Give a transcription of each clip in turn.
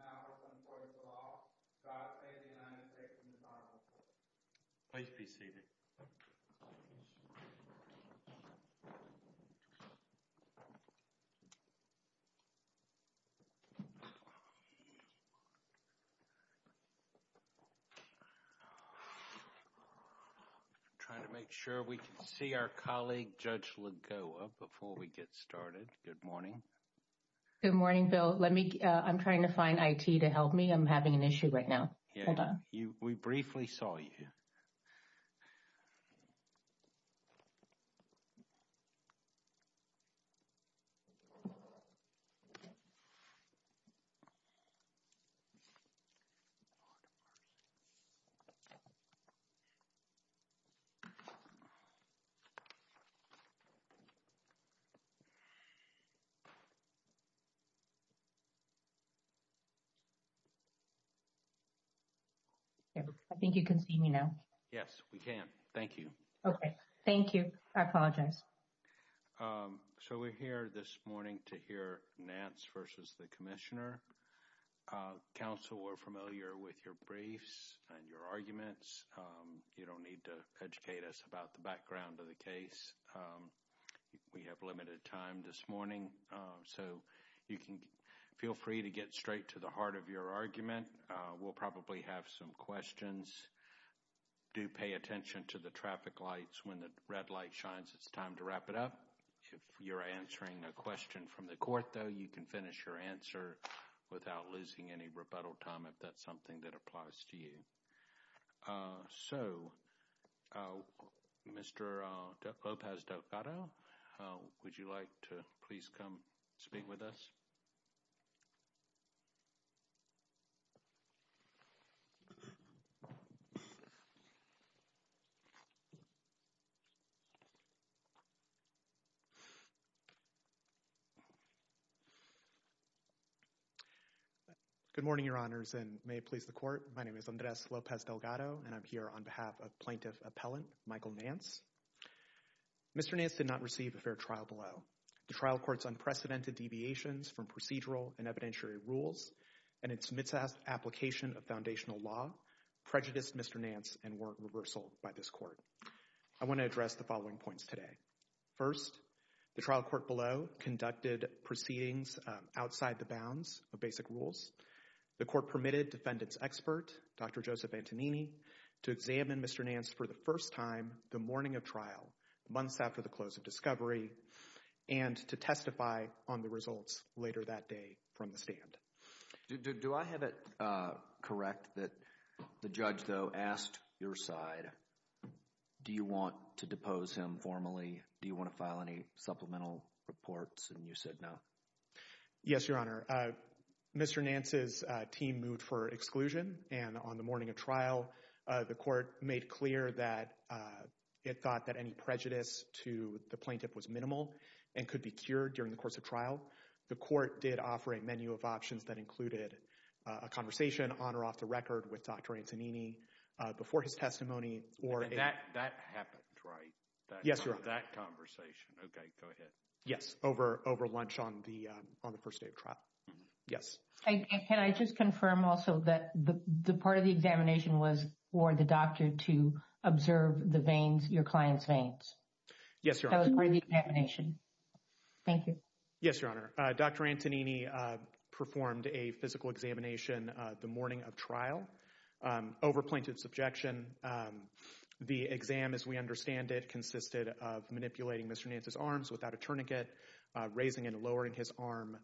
now working towards the law. Scott Stanley, United States Department of Justice. Please be seated. I'm trying to make sure we can see our colleague, Judge Lagoa, before we get started. Good morning. Good morning, Bill. Let me, I'm trying to find IT to help me. I'm having an issue right now. Hold on. We briefly saw you. Good morning. I think you can see me now. Yes, we can. Thank you. Okay. Thank you. I apologize. So, we're here this morning to hear Nance versus the Commissioner. Counsel, we're familiar with your briefs and your arguments. You don't need to educate us about the background of the case. We have limited time this morning, so you can feel free to get straight to the heart of your argument. We'll probably have some questions. Do pay attention to the traffic lights. When the red light shines, it's time to wrap it up. If you're answering a question from the court, though, you can finish your answer without losing any rebuttal time if that's something that applies to you. So, Mr. Lopez Delgado, would you like to please come speak with us? Good morning, Your Honors, and may it please the Court. My name is Andres Lopez Delgado, and I'm here on behalf of Plaintiff Appellant Michael Nance. Mr. Nance did not receive a fair trial below. The trial court's unprecedented deviations from procedural and evidentiary rules and its misapplication of foundational law prejudiced Mr. Nance and warrant reversal by this court. I want to address the following points today. First, the trial court below conducted proceedings outside the bounds of basic rules. The court permitted defendant's expert, Dr. Joseph Antonini, to examine Mr. Nance for the first time the morning of trial, months after the close of discovery, and to testify on the results later that day from the stand. Do I have it correct that the judge, though, asked your side, do you want to depose him informally? Do you want to file any supplemental reports, and you said no? Yes, Your Honor. Mr. Nance's team moved for exclusion, and on the morning of trial, the court made clear that it thought that any prejudice to the plaintiff was minimal and could be cured during the course of trial. The court did offer a menu of options that included a conversation on or off the record with Dr. Antonini before his testimony or a— That happened, right? Yes, Your Honor. That conversation. Okay. Go ahead. Yes. Over lunch on the first day of trial. Mm-hmm. Yes. And can I just confirm also that the part of the examination was for the doctor to observe the veins, your client's veins? Yes, Your Honor. That was part of the examination. Thank you. Yes, Your Honor. Dr. Antonini performed a physical examination the morning of trial over plaintiff's objection. The exam, as we understand it, consisted of manipulating Mr. Nance's arms without a tourniquet, raising and lowering his arm,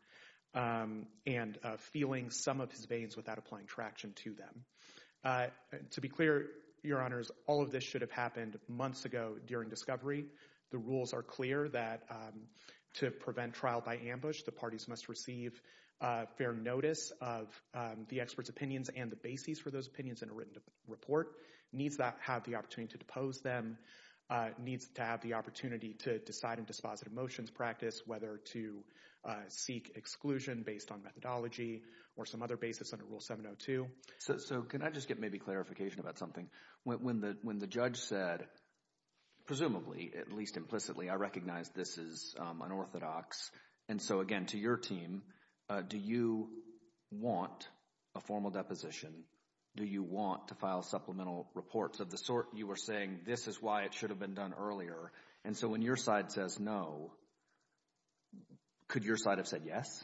and feeling some of his veins without applying traction to them. To be clear, Your Honors, all of this should have happened months ago during discovery. The rules are clear that to prevent trial by ambush, the parties must receive fair notice of the expert's opinions and the basis for those opinions in a written report, needs to have the opportunity to depose them, needs to have the opportunity to decide in dispositive motions practice whether to seek exclusion based on methodology or some other basis under Rule 702. So, can I just get maybe clarification about something? When the judge said, presumably, at least implicitly, I recognize this is unorthodox, and so again, to your team, do you want a formal deposition? Do you want to file supplemental reports of the sort you were saying, this is why it should have been done earlier? And so when your side says no, could your side have said yes?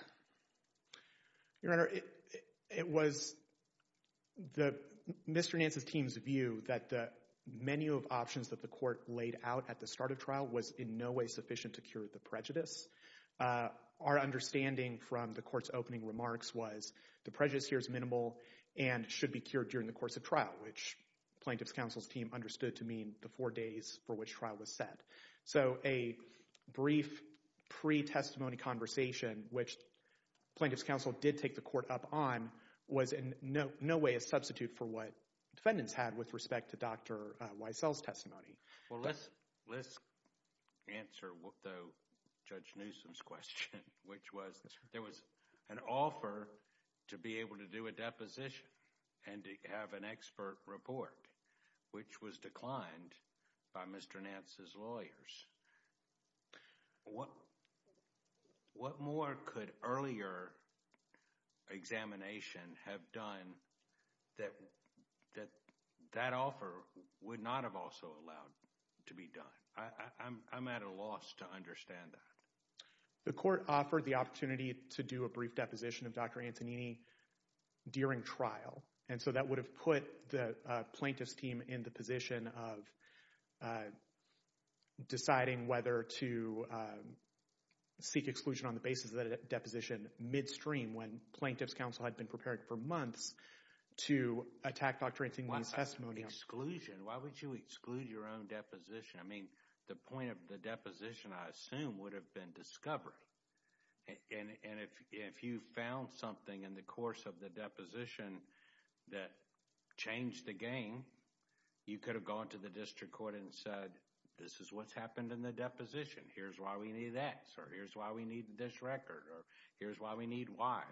Your Honor, it was Mr. Nance's team's view that the menu of options that the court laid out at the start of trial was in no way sufficient to cure the prejudice. Our understanding from the court's opening remarks was the prejudice here is minimal and should be cured during the course of trial, which Plaintiff's Counsel's team understood to mean the four days for which trial was set. So a brief pre-testimony conversation, which Plaintiff's Counsel did take the court up on, was in no way a substitute for what defendants had with respect to Dr. Weissel's testimony. Well, let's answer Judge Newsom's question, which was there was an offer to be able to do a deposition and to have an expert report, which was declined by Mr. Nance's lawyers. What more could earlier examination have done that that offer would not have also allowed to be done? I'm at a loss to understand that. The court offered the opportunity to do a brief deposition of Dr. Antonini during trial, and so that would have put the Plaintiff's team in the position of deciding whether to seek exclusion on the basis of that deposition midstream when Plaintiff's Counsel had been prepared for months to attack Dr. Antonini's testimony. Why would you exclude your own deposition? I mean, the point of the deposition, I assume, would have been discovery, and if you found something in the course of the deposition that changed the game, you could have gone to the district court and said, this is what's happened in the deposition. Here's why we need this, or here's why we need this record, or here's why we need why.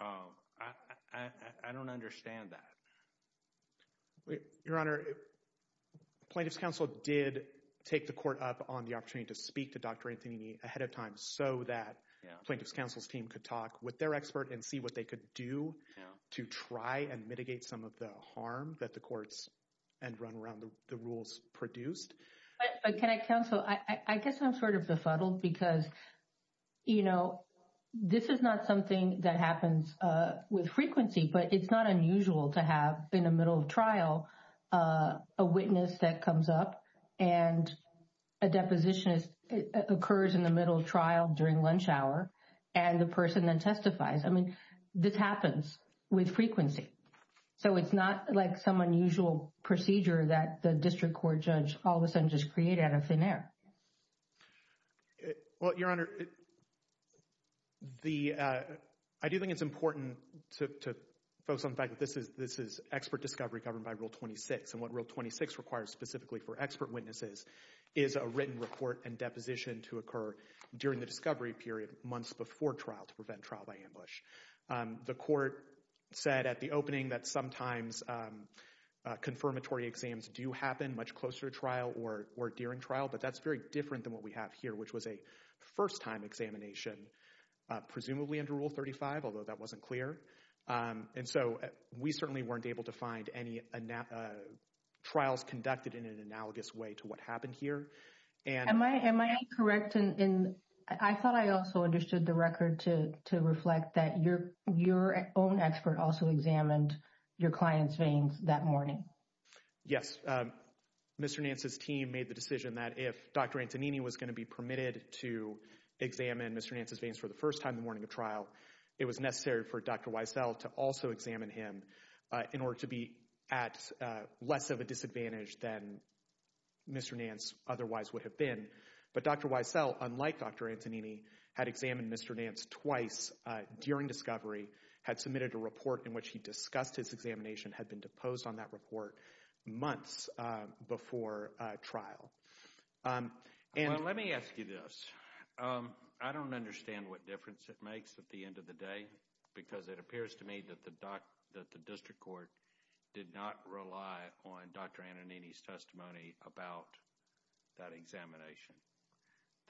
I don't understand that. Your Honor, Plaintiff's Counsel did take the court up on the opportunity to speak to Dr. Expert and see what they could do to try and mitigate some of the harm that the courts and run around the rules produced. But, Can I, Counsel, I guess I'm sort of befuddled because, you know, this is not something that happens with frequency, but it's not unusual to have in the middle of trial a witness that comes up and a deposition occurs in the middle of trial during lunch hour, and the person then testifies. I mean, this happens with frequency, so it's not like some unusual procedure that the district court judge all of a sudden just created out of thin air. Well, Your Honor, I do think it's important to focus on the fact that this is expert discovery governed by Rule 26, and what Rule 26 requires specifically for expert witnesses is a written report and deposition to occur during the discovery period months before trial to prevent trial by ambush. The court said at the opening that sometimes confirmatory exams do happen much closer to trial or during trial, but that's very different than what we have here, which was a first-time examination, presumably under Rule 35, although that wasn't clear. And so, we certainly weren't able to find any trials conducted in an analogous way to what happened here. Am I correct? I thought I also understood the record to reflect that your own expert also examined your client's veins that morning. Yes. Mr. Nance's team made the decision that if Dr. Antonini was going to be permitted to examine Mr. Nance's veins for the first time the morning of trial, it was necessary for Dr. Wiesel to also examine him in order to be at less of a disadvantage than Mr. Nance otherwise would have been. But Dr. Wiesel, unlike Dr. Antonini, had examined Mr. Nance twice during discovery, had submitted a report in which he discussed his examination, had been deposed on that report months before trial. Well, let me ask you this. I don't understand what difference it makes at the end of the day because it appears to me that the district court did not rely on Dr. Antonini's testimony about that examination.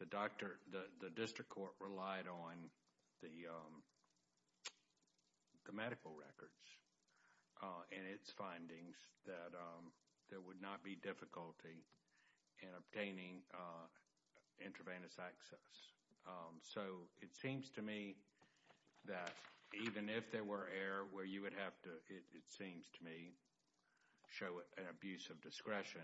The district court relied on the medical records and its findings that there would not be difficulty in obtaining intravenous access. So it seems to me that even if there were error where you would have to, it seems to me, show an abuse of discretion,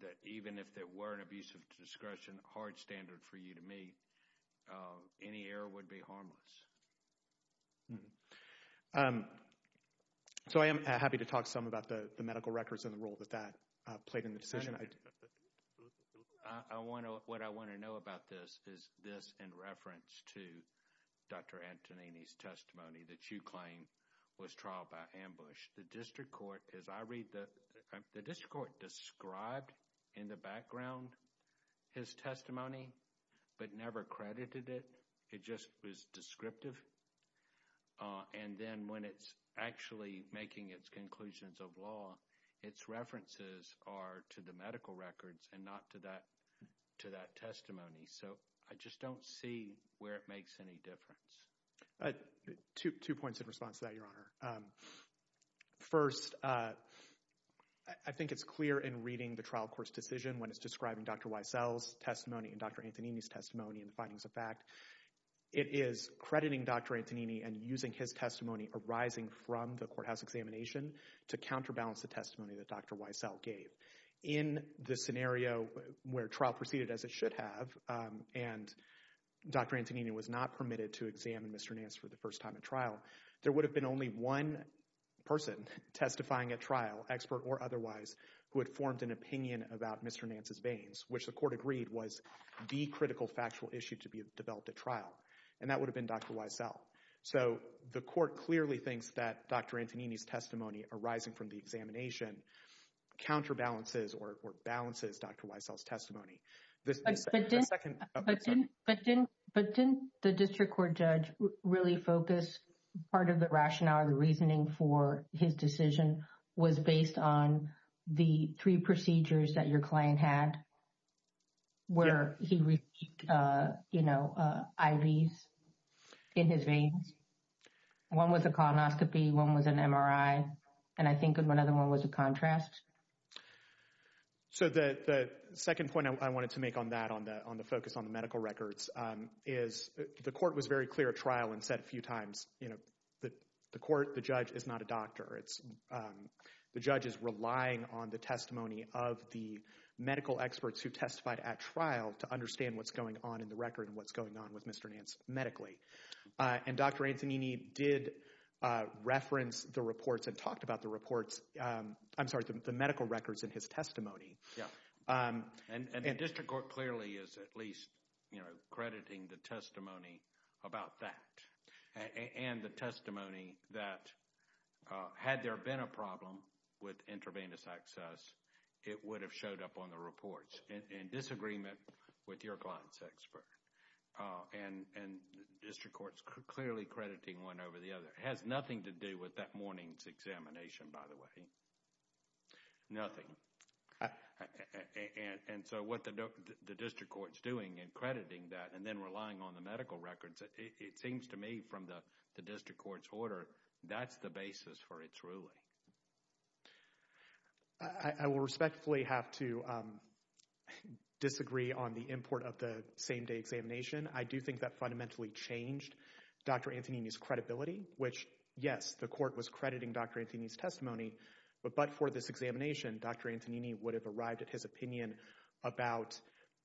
that even if there were an abuse of discretion hard standard for you to meet, any error would be harmless. So I am happy to talk some about the medical records and the role that that played in the decision. What I want to know about this is this in reference to Dr. Antonini's testimony that you claim was trial by ambush. The district court described in the background his testimony but never credited it. It just was descriptive. And then when it's actually making its conclusions of law, its references are to the medical records and not to that testimony. So I just don't see where it makes any difference. Two points in response to that, Your Honor. First, I think it's clear in reading the trial court's decision when it's describing Dr. Wiesel's testimony and Dr. Antonini's testimony and the findings of fact, it is crediting Dr. Antonini and using his testimony arising from the courthouse examination to counterbalance the testimony that Dr. Wiesel gave. In the scenario where trial proceeded as it should have and Dr. Antonini was not permitted to examine Mr. Nance for the first time at trial, there would have been only one person testifying at trial, expert or otherwise, who had formed an opinion about Mr. Nance's testimony and agreed was the critical factual issue to be developed at trial. And that would have been Dr. Wiesel. So the court clearly thinks that Dr. Antonini's testimony arising from the examination counterbalances or balances Dr. Wiesel's testimony. But didn't the district court judge really focus part of the rationale, the reasoning for his decision was based on the three procedures that your client had, where he received IVs in his veins? One was a colonoscopy, one was an MRI, and I think another one was a contrast. So the second point I wanted to make on that, on the focus on the medical records, is the court was very clear at trial and said a few times, you know, that the court, the judge is not a doctor. The judge is relying on the testimony of the medical experts who testified at trial to understand what's going on in the record and what's going on with Mr. Nance medically. And Dr. Antonini did reference the reports and talked about the reports, I'm sorry, the medical records in his testimony. And the district court clearly is at least, you know, crediting the testimony about that and the testimony that had there been a problem with intravenous access, it would have showed up on the reports in disagreement with your client's expert. And the district court is clearly crediting one over the other. It has nothing to do with that morning's examination, by the way. Nothing. And so what the district court is doing in crediting that and then relying on the medical records, it seems to me from the district court's order, that's the basis for its ruling. I will respectfully have to disagree on the import of the same day examination. I do think that fundamentally changed Dr. Antonini's credibility, which, yes, the court was crediting Dr. Antonini's testimony, but for this examination, Dr. Antonini would have arrived at his opinion about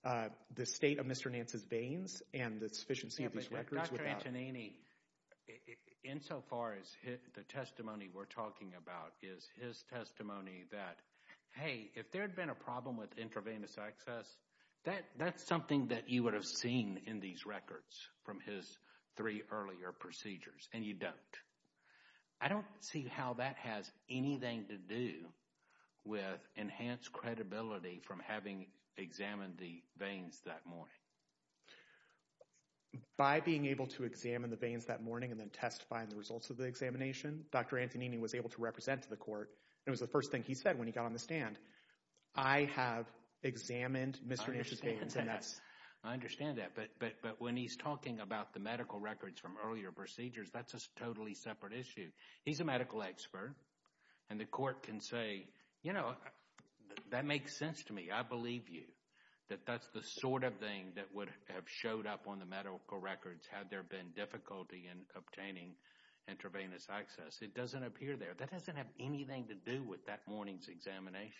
the state of Mr. Nance's veins and the sufficiency of these records without... Dr. Antonini, insofar as the testimony we're talking about is his testimony that, hey, if there had been a problem with intravenous access, that's something that you would have seen in these records from his three earlier procedures, and you don't. I don't see how that has anything to do with enhanced credibility from having examined the veins that morning. By being able to examine the veins that morning and then testify in the results of the examination, Dr. Antonini was able to represent to the court, and it was the first thing he said when he got on the stand, I have examined Mr. Nance's veins and that's... I understand that, but when he's talking about the medical records from earlier procedures, that's a totally separate issue. He's a medical expert, and the court can say, you know, that makes sense to me. I believe you, that that's the sort of thing that would have showed up on the medical records had there been difficulty in obtaining intravenous access. It doesn't appear there. That doesn't have anything to do with that morning's examination.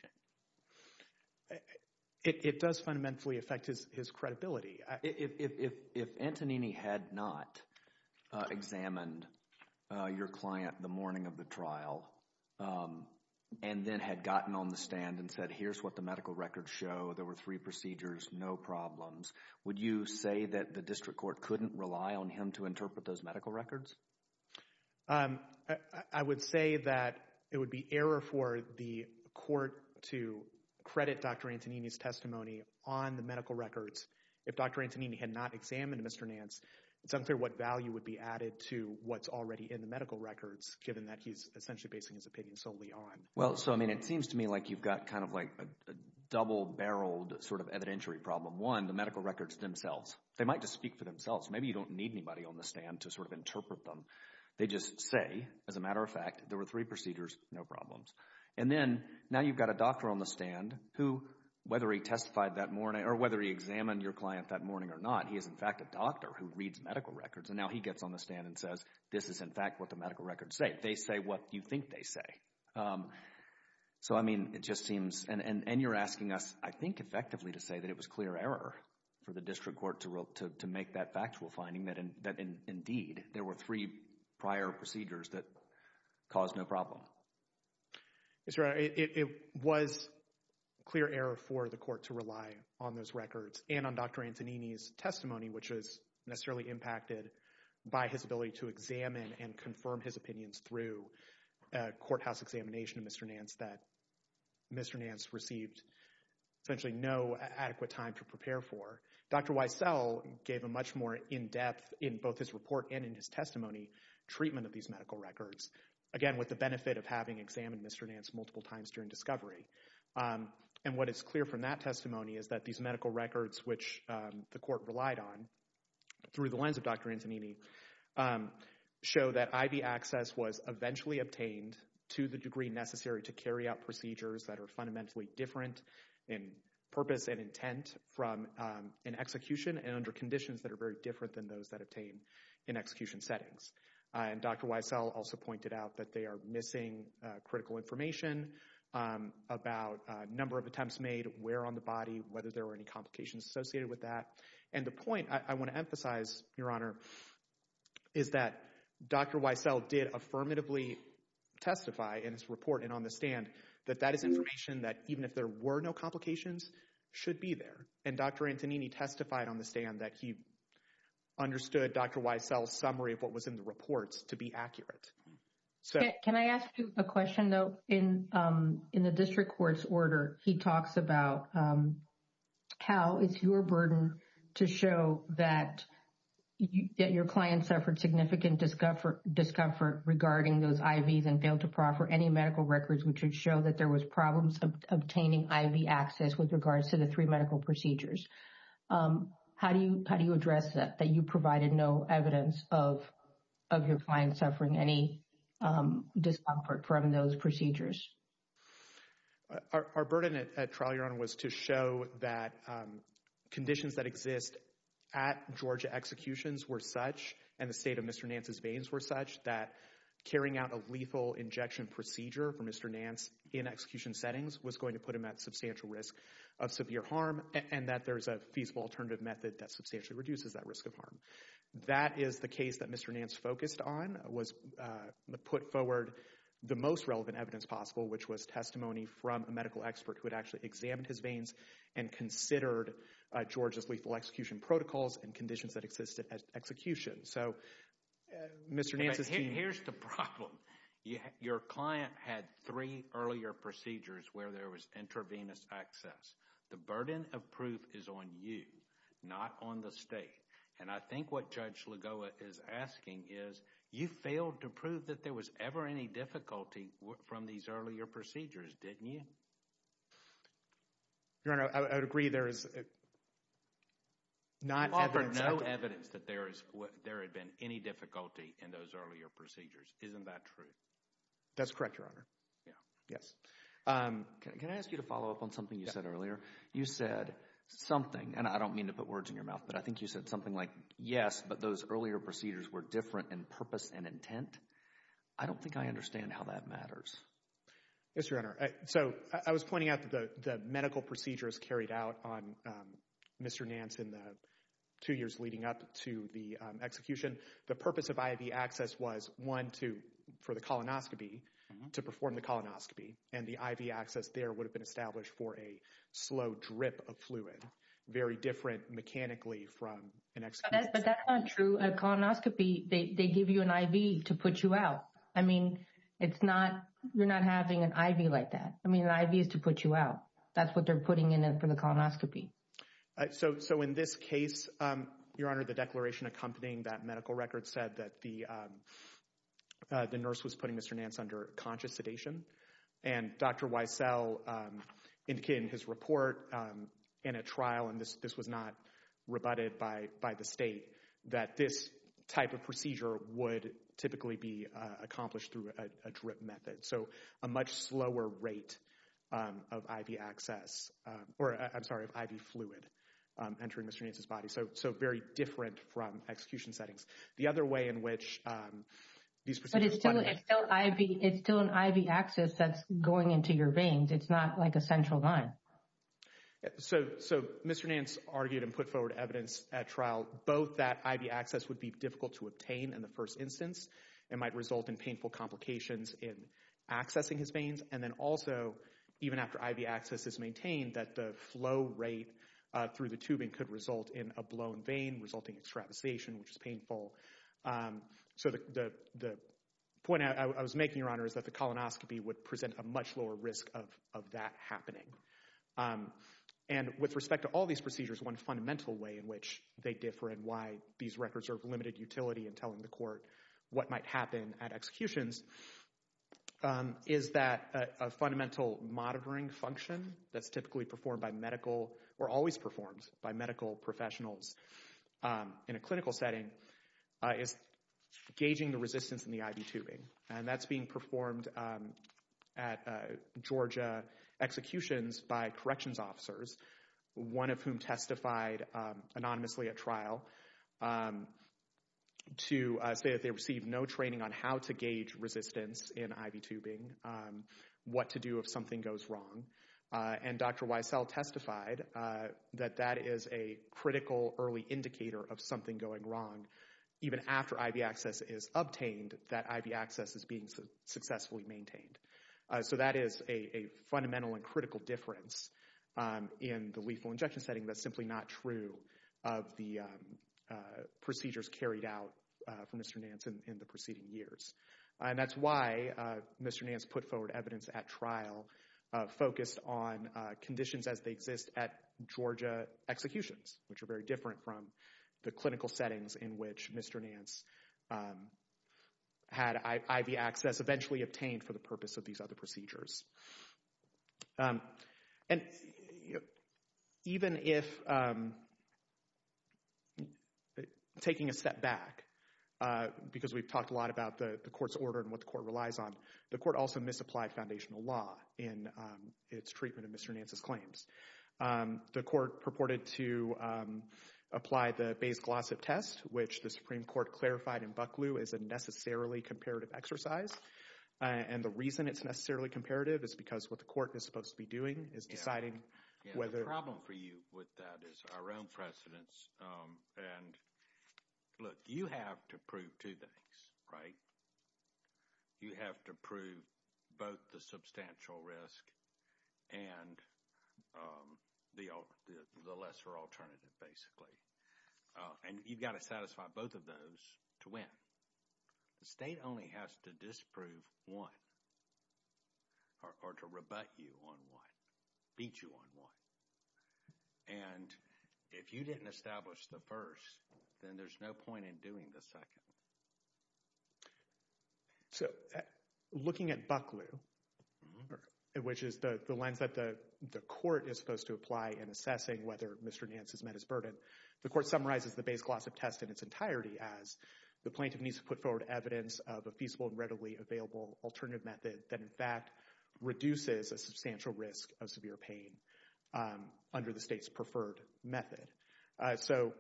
It does fundamentally affect his credibility. If Antonini had not examined your client the morning of the trial and then had gotten on the stand and said, here's what the medical records show, there were three procedures, no problems, would you say that the district court couldn't rely on him to interpret those medical records? I would say that it would be error for the court to credit Dr. Antonini's testimony on the medical records. If Dr. Antonini had not examined Mr. Nance, it's unclear what value would be added to what's already in the medical records, given that he's essentially basing his opinion solely on. Well, so I mean, it seems to me like you've got kind of like a double-barreled sort of evidentiary problem. One, the medical records themselves. They might just speak for themselves. Maybe you don't need anybody on the stand to sort of interpret them. They just say, as a matter of fact, there were three procedures, no problems. And then now you've got a doctor on the stand who, whether he testified that morning or whether he examined your client that morning or not, he is, in fact, a doctor who reads medical records. And now he gets on the stand and says, this is, in fact, what the medical records say. They say what you think they say. So, I mean, it just seems, and you're asking us, I think, effectively to say that it was clear error for the district court to make that factual finding that indeed there were three prior procedures that caused no problem. Yes, Your Honor, it was clear error for the court to rely on those records and on Dr. Antonini's testimony, which was necessarily impacted by his ability to examine and confirm his opinions through a courthouse examination of Mr. Nance that Mr. Nance received essentially no adequate time to prepare for. Dr. Wiesel gave a much more in-depth, in both his report and in his testimony, treatment of these medical records. Again, with the benefit of having examined Mr. Nance multiple times during discovery. And what is clear from that testimony is that these medical records, which the court relied on through the lens of Dr. Antonini, show that IV access was eventually obtained to the degree necessary to carry out procedures that are fundamentally different in purpose and intent from an execution and under conditions that are very different than those that obtain in execution settings. And Dr. Wiesel also pointed out that they are missing critical information about a number of attempts made, where on the body, whether there were any complications associated with that. And the point I want to emphasize, Your Honor, is that Dr. Wiesel did affirmatively testify in his report and on the stand that that is information that even if there were no complications should be there. And Dr. Antonini testified on the stand that he understood Dr. Wiesel's summary of what was in the reports to be accurate. So... Can I ask you a question, though? In the district court's order, he talks about how it's your burden to show that your client suffered significant discomfort regarding those IVs and failed to proffer any medical records which would show that there was problems obtaining IV access with regards to the three medical procedures. How do you address that, that you provided no evidence of your client suffering any discomfort from those procedures? Our burden at trial, Your Honor, was to show that conditions that exist at Georgia executions were such, and the state of Mr. Nance's veins were such, that carrying out a lethal injection procedure for Mr. Nance in execution settings was going to put him at substantial risk of There's a feasible alternative method that substantially reduces that risk of harm. That is the case that Mr. Nance focused on, was put forward the most relevant evidence possible, which was testimony from a medical expert who had actually examined his veins and considered Georgia's lethal execution protocols and conditions that existed at execution. So, Mr. Nance's... Here's the problem. Your client had three earlier procedures where there was intravenous access. The burden of proof is on you, not on the state. And I think what Judge Lagoa is asking is, you failed to prove that there was ever any difficulty from these earlier procedures, didn't you? Your Honor, I would agree there is not evidence... Offer no evidence that there is, there had been any difficulty in those earlier procedures. Isn't that true? That's correct, Your Honor. Yeah. Yes. Can I ask you to follow up on something you said earlier? You said something, and I don't mean to put words in your mouth, but I think you said something like, yes, but those earlier procedures were different in purpose and intent. I don't think I understand how that matters. Yes, Your Honor. So, I was pointing out that the medical procedures carried out on Mr. Nance in the two years leading up to the execution. The purpose of IV access was, one, for the colonoscopy, to perform the colonoscopy. And the IV access there would have been established for a slow drip of fluid, very different mechanically from an excision. But that's not true. A colonoscopy, they give you an IV to put you out. I mean, it's not, you're not having an IV like that. I mean, an IV is to put you out. That's what they're putting in it for the colonoscopy. So, in this case, Your Honor, the declaration accompanying that medical record said that the nurse was putting Mr. Nance under conscious sedation. And Dr. Wiesel indicated in his report in a trial, and this was not rebutted by the state, that this type of procedure would typically be accomplished through a drip method. So, a much slower rate of IV access, or I'm sorry, of IV fluid entering Mr. Nance's body. So, very different from execution settings. The other way in which these procedures. But it's still an IV access that's going into your veins. It's not like a central line. So, Mr. Nance argued and put forward evidence at trial, both that IV access would be difficult to obtain in the first instance. It might result in painful complications in accessing his veins. And then also, even after IV access is maintained, that the flow rate through the tubing could result in a blown vein, resulting in extravasation, which is painful. So, the point I was making, Your Honor, is that the colonoscopy would present a much lower risk of that happening. And with respect to all these procedures, one fundamental way in which they differ, and why these records are of limited utility in telling the court what might happen at executions, is that a fundamental monitoring function that's typically performed by medical, or always performed by medical professionals in a clinical setting, is gauging the resistance in the IV tubing. And that's being performed at Georgia executions by corrections officers, one of whom testified anonymously at trial to say that they received no training on how to gauge resistance in IV tubing, what to do if something goes wrong. And Dr. Wiesel testified that that is a critical early indicator of something going wrong. Even after IV access is obtained, that IV access is being successfully maintained. So that is a fundamental and critical difference in the lethal injection setting that's simply not true of the procedures carried out from Mr. Nance in the preceding years. And that's why Mr. Nance put forward evidence at trial focused on conditions as they exist at Georgia executions, which are very different from the clinical settings in which Mr. Nance had IV access eventually obtained for the purpose of these other procedures. And even if, taking a step back, because we've talked a lot about the court's order and what the court relies on, the court also misapplied foundational law in its treatment of Mr. Nance's The court purported to apply the Bayes-Glossop test, which the Supreme Court clarified in Bucklew is a necessarily comparative exercise. And the reason it's necessarily comparative is because the Supreme Court has said that what the court is supposed to be doing is deciding whether... The problem for you with that is our own precedence. And look, you have to prove two things, right? You have to prove both the substantial risk and the lesser alternative, basically. And you've got to satisfy both of those to win. The state only has to disprove one. Or to rebut you on one, beat you on one. And if you didn't establish the first, then there's no point in doing the second. So looking at Bucklew, which is the lens that the court is supposed to apply in assessing whether Mr. Nance has met his burden, the court summarizes the Bayes-Glossop test in its entirety as the plaintiff needs to put forward evidence of a feasible and readily available alternative method that in fact reduces a substantial risk of severe pain under the state's preferred method. So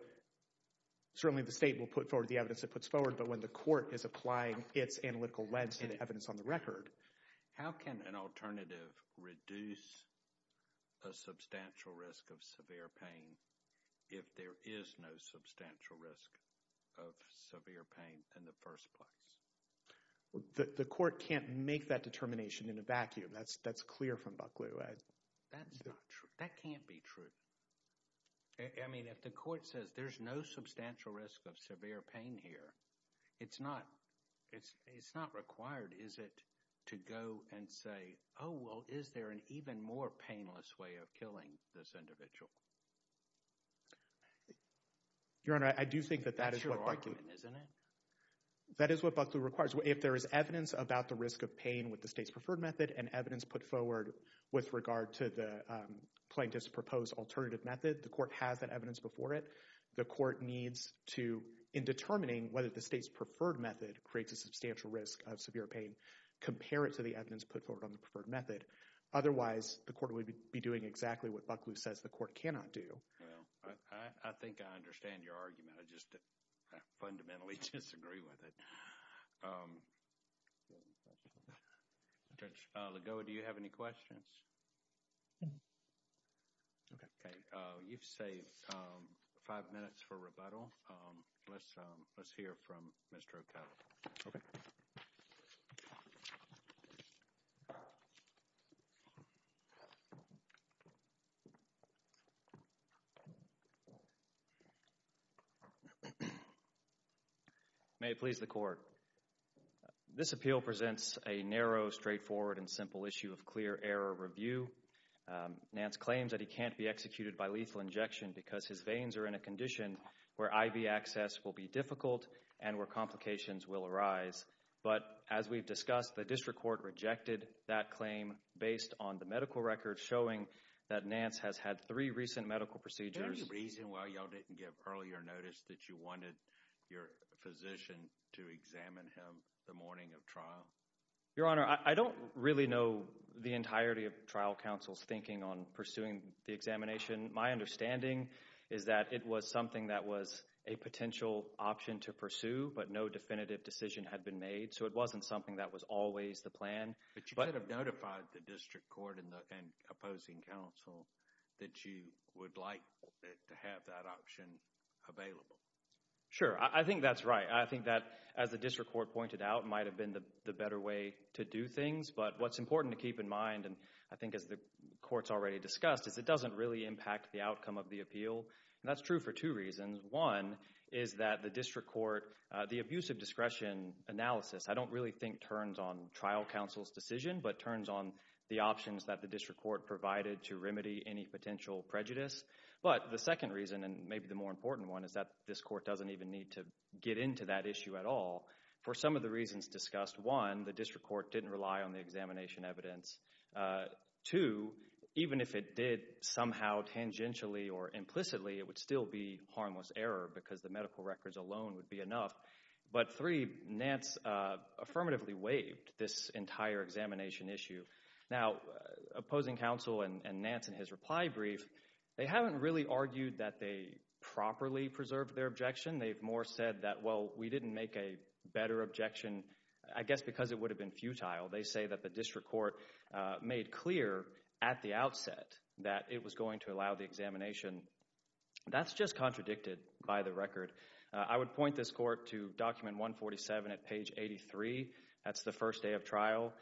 certainly the state will put forward the evidence it puts forward, but when the court is applying its analytical lens to the evidence on the record... How can an alternative reduce a substantial risk of severe pain if there is no substantial risk of severe pain in the first place? Well, the court can't make that determination in a vacuum. That's clear from Bucklew. That's not true. That can't be true. I mean, if the court says there's no substantial risk of severe pain here, it's not required, is it, to go and say, oh, well, is there an even more painless way of killing this individual? Your Honor, I do think that that is what Bucklew... That's your argument, isn't it? That is what Bucklew requires. If there is evidence about the risk of pain with the state's preferred method and evidence put forward with regard to the plaintiff's proposed alternative method, the court has that evidence before it. The court needs to, in determining whether the state's preferred method creates a substantial risk of severe pain, compare it to the evidence put forward on the preferred method. Otherwise, the court would be doing exactly what Bucklew says the court cannot do. Well, I think I understand your argument. I just fundamentally disagree with it. Judge Lagoa, do you have any questions? Okay. You've saved five minutes for rebuttal. Let's hear from Mr. O'Connell. Your Honor, may it please the court. This appeal presents a narrow, straightforward, and simple issue of clear error review. Nance claims that he can't be executed by lethal injection because his veins are in a condition where IV access will be difficult and where complications will arise. But as we've discussed, the district court rejected that claim based on the medical record showing that Nance has had three recent medical procedures... Is there any reason why y'all didn't give earlier notice that you wanted your physician to examine him the morning of trial? Your Honor, I don't really know the entirety of trial counsel's thinking on pursuing the examination. My understanding is that it was something that was a potential option to pursue, but no definitive decision had been made. So, it wasn't something that was always the plan. But you could have notified the district court and the opposing counsel that you would like to have that option available. Sure, I think that's right. I think that, as the district court pointed out, might have been the better way to do things. But what's important to keep in mind, and I think as the court's already discussed, is it doesn't really impact the outcome of the appeal. And that's true for two reasons. One is that the district court, the abuse of discretion analysis, I don't really think turns on trial counsel's decision, but turns on the options that the district court provided to remedy any potential prejudice. But the second reason, and maybe the more important one, is that this court doesn't even need to get into that issue at all for some of the reasons discussed. One, the district court didn't rely on the examination evidence. Two, even if it did somehow, tangentially or implicitly, it would still be harmless error because the medical records alone would be enough. But three, Nance affirmatively waived this entire examination issue. Now, opposing counsel and Nance in his reply brief, they haven't really argued that they properly preserved their objection. They've more said that, well, we didn't make a better objection, I guess, because it would have been futile. They say that the district court made clear at the outset that it was going to allow the examination. That's just contradicted by the record. I would point this court to document 147 at page 83. That's the first day of trial.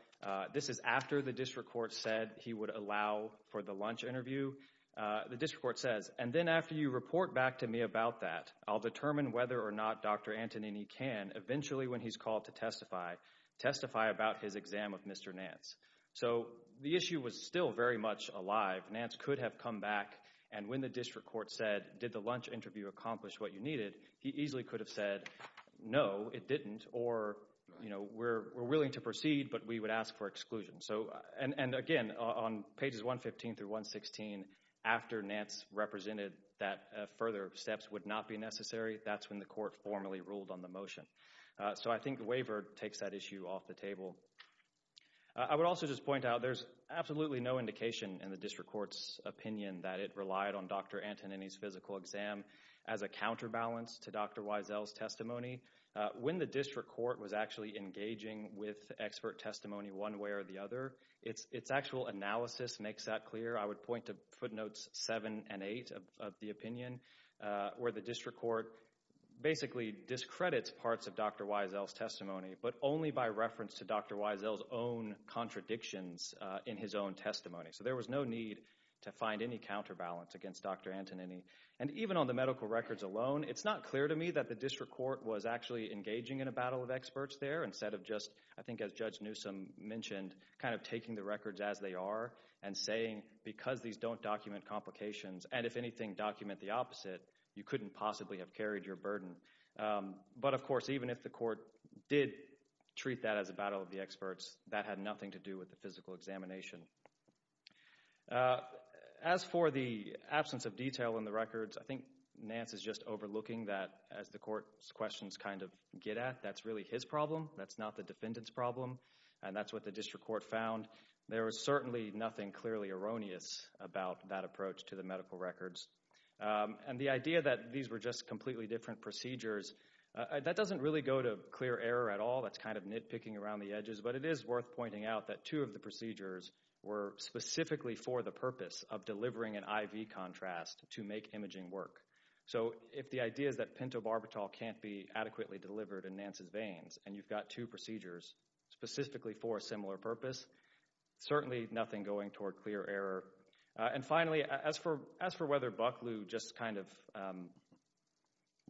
This is after the district court said he would allow for the lunch interview. The district court says, and then after you report back to me about that, I'll determine whether or not Dr. Antonini can, eventually when he's called to testify, testify about his exam with Mr. Nance. So, the issue was still very much alive. Nance could have come back and when the district court said, did the lunch interview accomplish what you needed, he easily could have said, no, it didn't, or, you know, we're willing to proceed, but we would ask for exclusion. So, and again, on pages 115 through 116, after Nance represented that further steps would not be necessary, that's when the court formally ruled on the motion. So, I think the waiver takes that issue off the table. I would also just point out there's absolutely no indication in the district court's opinion that it relied on Dr. Antonini's physical exam as a counterbalance to Dr. Wiesel's When the district court was actually engaging with expert testimony one way or the other, its actual analysis makes that clear. I would point to footnotes seven and eight of the opinion where the district court basically discredits parts of Dr. Wiesel's testimony, but only by reference to Dr. Wiesel's own contradictions in his own testimony. So, there was no need to find any counterbalance against Dr. Antonini. And even on the medical records alone, it's not clear to me that the district court was actually engaging in a battle of experts there instead of just, I think as Judge Newsome mentioned, kind of taking the records as they are and saying, because these don't document complications, and if anything, document the opposite, you couldn't possibly have carried your burden. But of course, even if the court did treat that as a battle of the experts, that had nothing to do with the physical examination. As for the absence of detail in the records, I think Nance is just overlooking that as the court's questions kind of get at. That's really his problem. That's not the defendant's problem. And that's what the district court found. There was certainly nothing clearly erroneous about that approach to the medical records. And the idea that these were just completely different procedures, that doesn't really go to clear error at all. That's kind of nitpicking around the edges. But it is worth pointing out that two of the procedures were specifically for the purpose of delivering an IV contrast to make imaging work. So if the idea is that pentobarbital can't be adequately delivered in Nance's veins, and you've got two procedures specifically for a similar purpose, certainly nothing going toward clear error. And finally, as for whether Bucklew just kind of,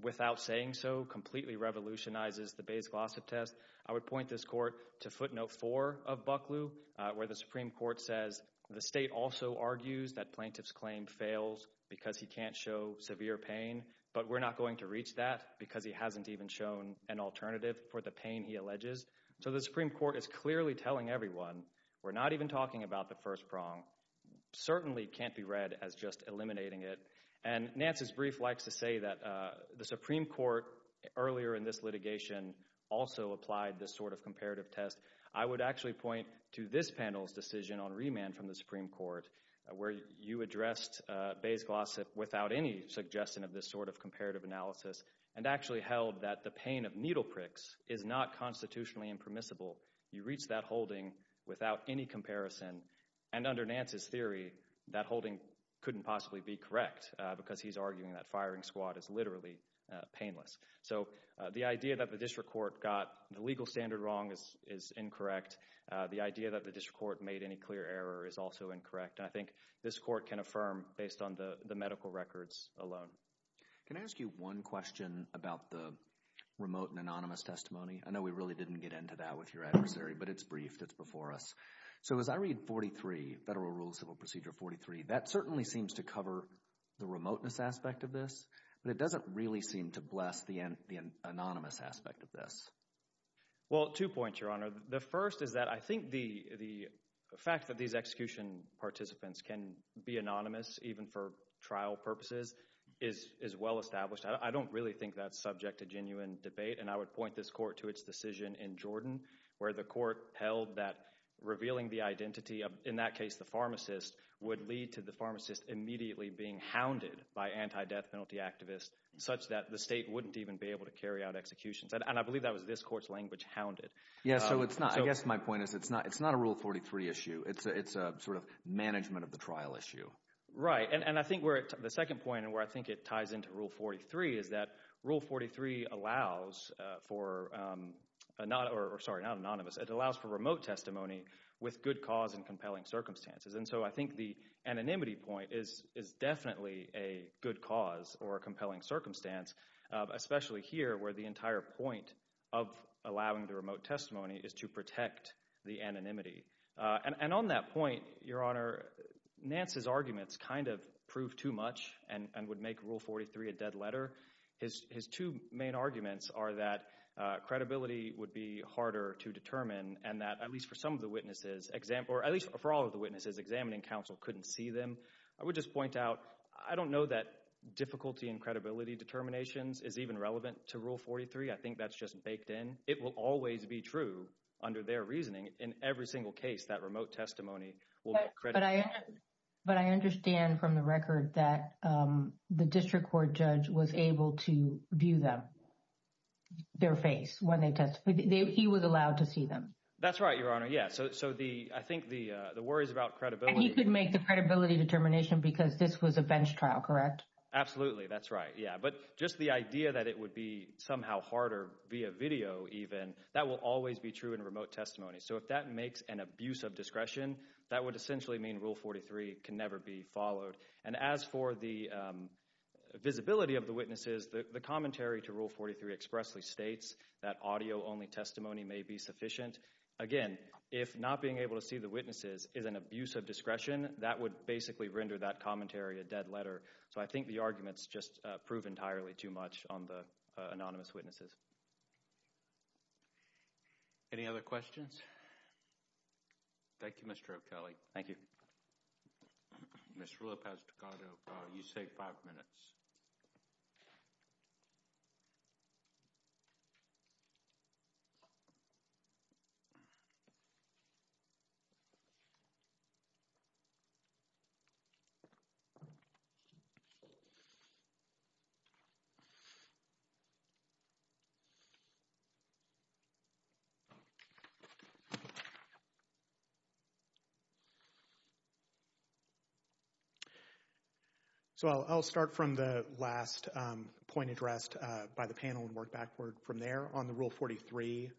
without saying so, completely revolutionizes the Bayes-Glossop test, I would point this court to footnote four of Bucklew, where the Supreme Court says, the state also argues that plaintiff's claim fails because he can't show severe pain. But we're not going to reach that because he hasn't even shown an alternative for the pain he alleges. So the Supreme Court is clearly telling everyone, we're not even talking about the first prong. Certainly can't be read as just eliminating it. And Nance's brief likes to say that the Supreme Court earlier in this litigation also applied this sort of comparative test. I would actually point to this panel's decision on remand from the Supreme Court, where you addressed Bayes-Glossop without any suggestion of this sort of comparative analysis and actually held that the pain of needle pricks is not constitutionally impermissible. You reach that holding without any comparison. And under Nance's theory, that holding couldn't possibly be correct because he's arguing that firing squad is literally painless. So the idea that the district court got the legal standard wrong is incorrect. The idea that the district court made any clear error is also incorrect. And I think this court can affirm based on the medical records alone. Can I ask you one question about the remote and anonymous testimony? I know we really didn't get into that with your adversary, but it's briefed. It's before us. So as I read 43, Federal Rules of Civil Procedure 43, that certainly seems to cover the remoteness aspect of this. But it doesn't really seem to bless the anonymous aspect of this. Well, two points, Your Honor. The first is that I think the fact that these execution participants can be anonymous, even for trial purposes, is well established. I don't really think that's subject to genuine debate. And I would point this court to its decision in Jordan, where the court held that revealing the identity of, in that case, the pharmacist, would lead to the pharmacist immediately being hounded by anti-death penalty activists such that the state wouldn't even be able to carry out executions. And I believe that was this court's language, hounded. Yeah, so it's not, I guess my point is, it's not a Rule 43 issue. It's a sort of management of the trial issue. Right. And I think the second point, and where I think it ties into Rule 43, is that Rule 43 allows for, sorry, not anonymous, it allows for remote testimony with good cause and compelling circumstances. And so I think the anonymity point is definitely a good cause or a compelling circumstance, especially here where the entire point of allowing the remote testimony is to protect the anonymity. And on that point, Your Honor, Nance's arguments kind of prove too much and would make Rule 43 a dead letter. His two main arguments are that credibility would be harder to determine and that, at least for some of the witnesses, or at least for all of the witnesses examining counsel couldn't see them. I would just point out, I don't know that difficulty in credibility determinations is even relevant to Rule 43. I think that's just baked in. It will always be true under their reasoning. In every single case, that remote testimony will get credibility. But I understand from the record that the district court judge was able to view them, their face, when they testified. He was allowed to see them. That's right, Your Honor. Yeah, so I think the worries about credibility— He could make the credibility determination because this was a bench trial, correct? Absolutely, that's right. Yeah, but just the idea that it would be somehow harder via video even, that will always be true in remote testimony. So if that makes an abuse of discretion, that would essentially mean Rule 43 can never be And as for the visibility of the witnesses, the commentary to Rule 43 expressly states that audio-only testimony may be sufficient. Again, if not being able to see the witnesses is an abuse of discretion, that would basically render that commentary a dead letter. So I think the arguments just prove entirely too much on the anonymous witnesses. Any other questions? Thank you, Mr. O'Kelly. Thank you. Ms. Rulopasticado, you save five minutes. So I'll start from the last point addressed by the panel and work backward from there on the Rule 43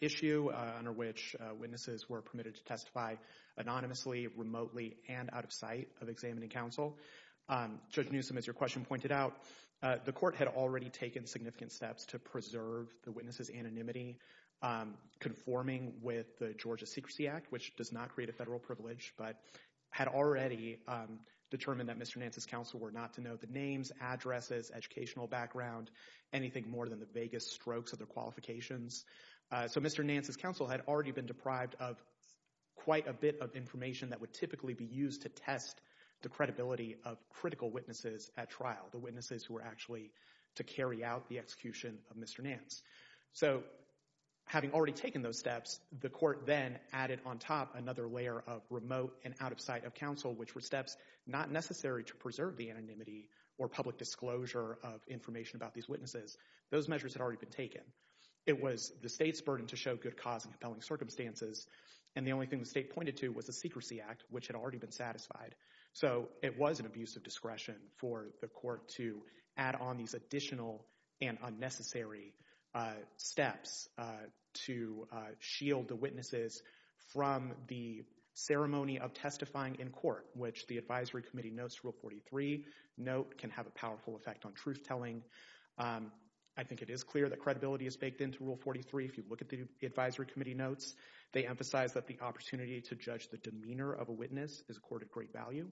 issue under which witnesses were permitted to testify anonymously, remotely, and out of sight of examining counsel. Judge Newsom, as your question pointed out, the court had already taken significant steps to preserve the witnesses' anonymity conforming with the Georgia Secrecy Act, which does not create a federal privilege, but had already determined that Mr. Nance's counsel were not to know the names, addresses, educational background, anything more than the vaguest strokes of their qualifications. So Mr. Nance's counsel had already been deprived of quite a bit of information that would typically be used to test the credibility of critical witnesses at trial, the witnesses who were actually to carry out the execution of Mr. Nance. So having already taken those steps, the court then added on top another layer of remote and out of sight of counsel, which were steps not necessary to preserve the anonymity or public disclosure of information about these witnesses. Those measures had already been taken. It was the state's burden to show good cause in compelling circumstances, and the only thing the state pointed to was the Secrecy Act, which had already been satisfied. So it was an abuse of discretion for the court to add on these additional and unnecessary steps to shield the witnesses from the ceremony of testifying in court, which the advisory committee notes Rule 43 note can have a powerful effect on truth-telling. I think it is clear that credibility is baked into Rule 43. If you look at the advisory committee notes, they emphasize that the opportunity to judge the demeanor of a witness is a court of great value.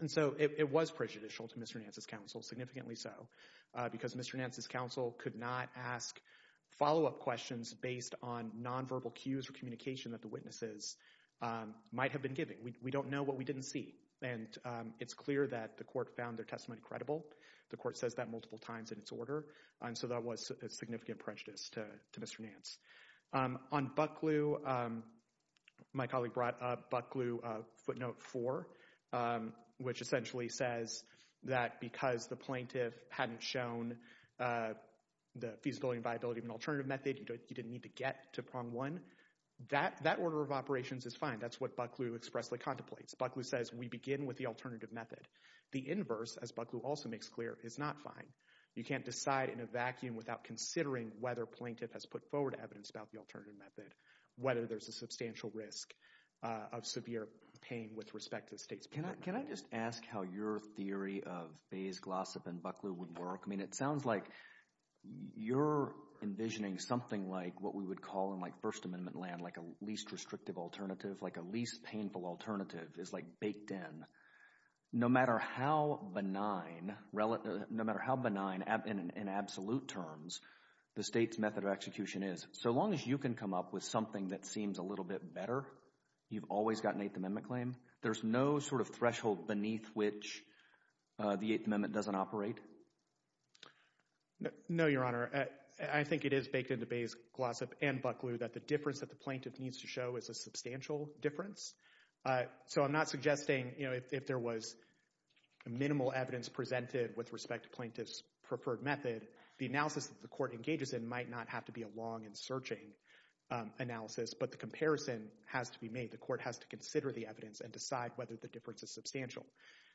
And so it was prejudicial to Mr. Nance's counsel, significantly so, because Mr. Nance's counsel could not ask follow-up questions based on nonverbal cues or communication that the witnesses might have been giving. We don't know what we didn't see, and it's clear that the court found their testimony credible. The court says that multiple times in its order, and so that was a significant prejudice to Mr. Nance. On Bucklew, my colleague brought up Bucklew footnote 4, which essentially says that because the plaintiff hadn't shown the feasibility and viability of an alternative method, he didn't need to get to prong one, that order of operations is fine. That's what Bucklew expressly contemplates. Bucklew says we begin with the alternative method. The inverse, as Bucklew also makes clear, is not fine. You can't decide in a vacuum without considering whether plaintiff has put forward evidence about the alternative method, whether there's a substantial risk of severe pain with respect to the state's plaintiff. Can I just ask how your theory of Bayes, Glossop, and Bucklew would work? I mean, it sounds like you're envisioning something like what we would call in, like, First Amendment land, like a least restrictive alternative, like a least painful alternative is, like, baked in. No matter how benign, no matter how benign in absolute terms the state's method of execution is, so long as you can come up with something that seems a little bit better, you've always got an Eighth Amendment claim. There's no sort of threshold beneath which the Eighth Amendment doesn't operate? No, Your Honor. I think it is baked into Bayes, Glossop, and Bucklew that the difference that the plaintiff needs to show is a substantial difference. So I'm not suggesting, you know, if there was minimal evidence presented with respect to plaintiff's preferred method, the analysis that the court engages in might not have to be a long and searching analysis, but the comparison has to be made. The court has to consider the evidence and decide whether the difference is substantial.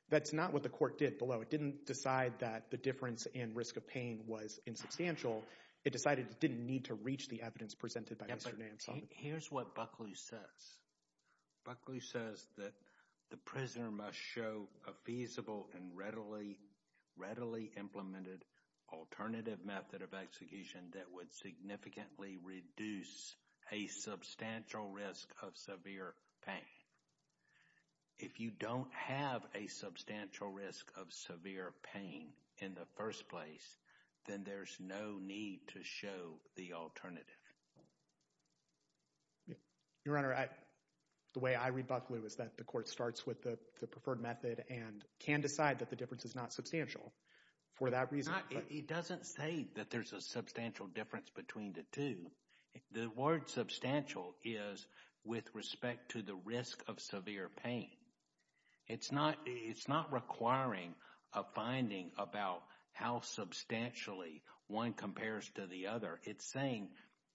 That's not what the court did below. It didn't decide that the difference in risk of pain was insubstantial. It decided it didn't need to reach the evidence presented by Mr. Nansal. Here's what Bucklew says. Bucklew says that the prisoner must show a feasible and readily implemented alternative method of execution that would significantly reduce a substantial risk of severe pain. If you don't have a substantial risk of severe pain in the first place, then there's no need to show the alternative. Your Honor, the way I read Bucklew is that the court starts with the preferred method and can decide that the difference is not substantial for that reason. It doesn't say that there's a substantial difference between the two. The word substantial is with respect to the risk of severe pain. It's not requiring a finding about how substantially one compares to the other. It's saying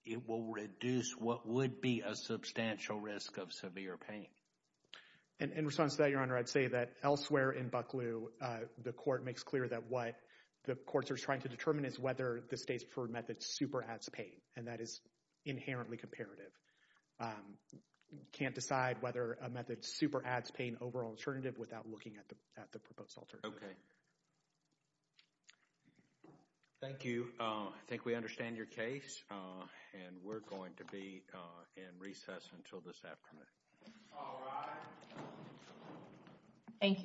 it will reduce what would be a substantial risk of severe pain. And in response to that, Your Honor, I'd say that elsewhere in Bucklew, the court makes clear that what the courts are trying to determine is whether the state's preferred method super adds pain. And that is inherently comparative. Can't decide whether a method super adds pain over an alternative without looking at the proposed alternative. Okay. Thank you. I think we understand your case. And we're going to be in recess until this afternoon. All rise. Thank you.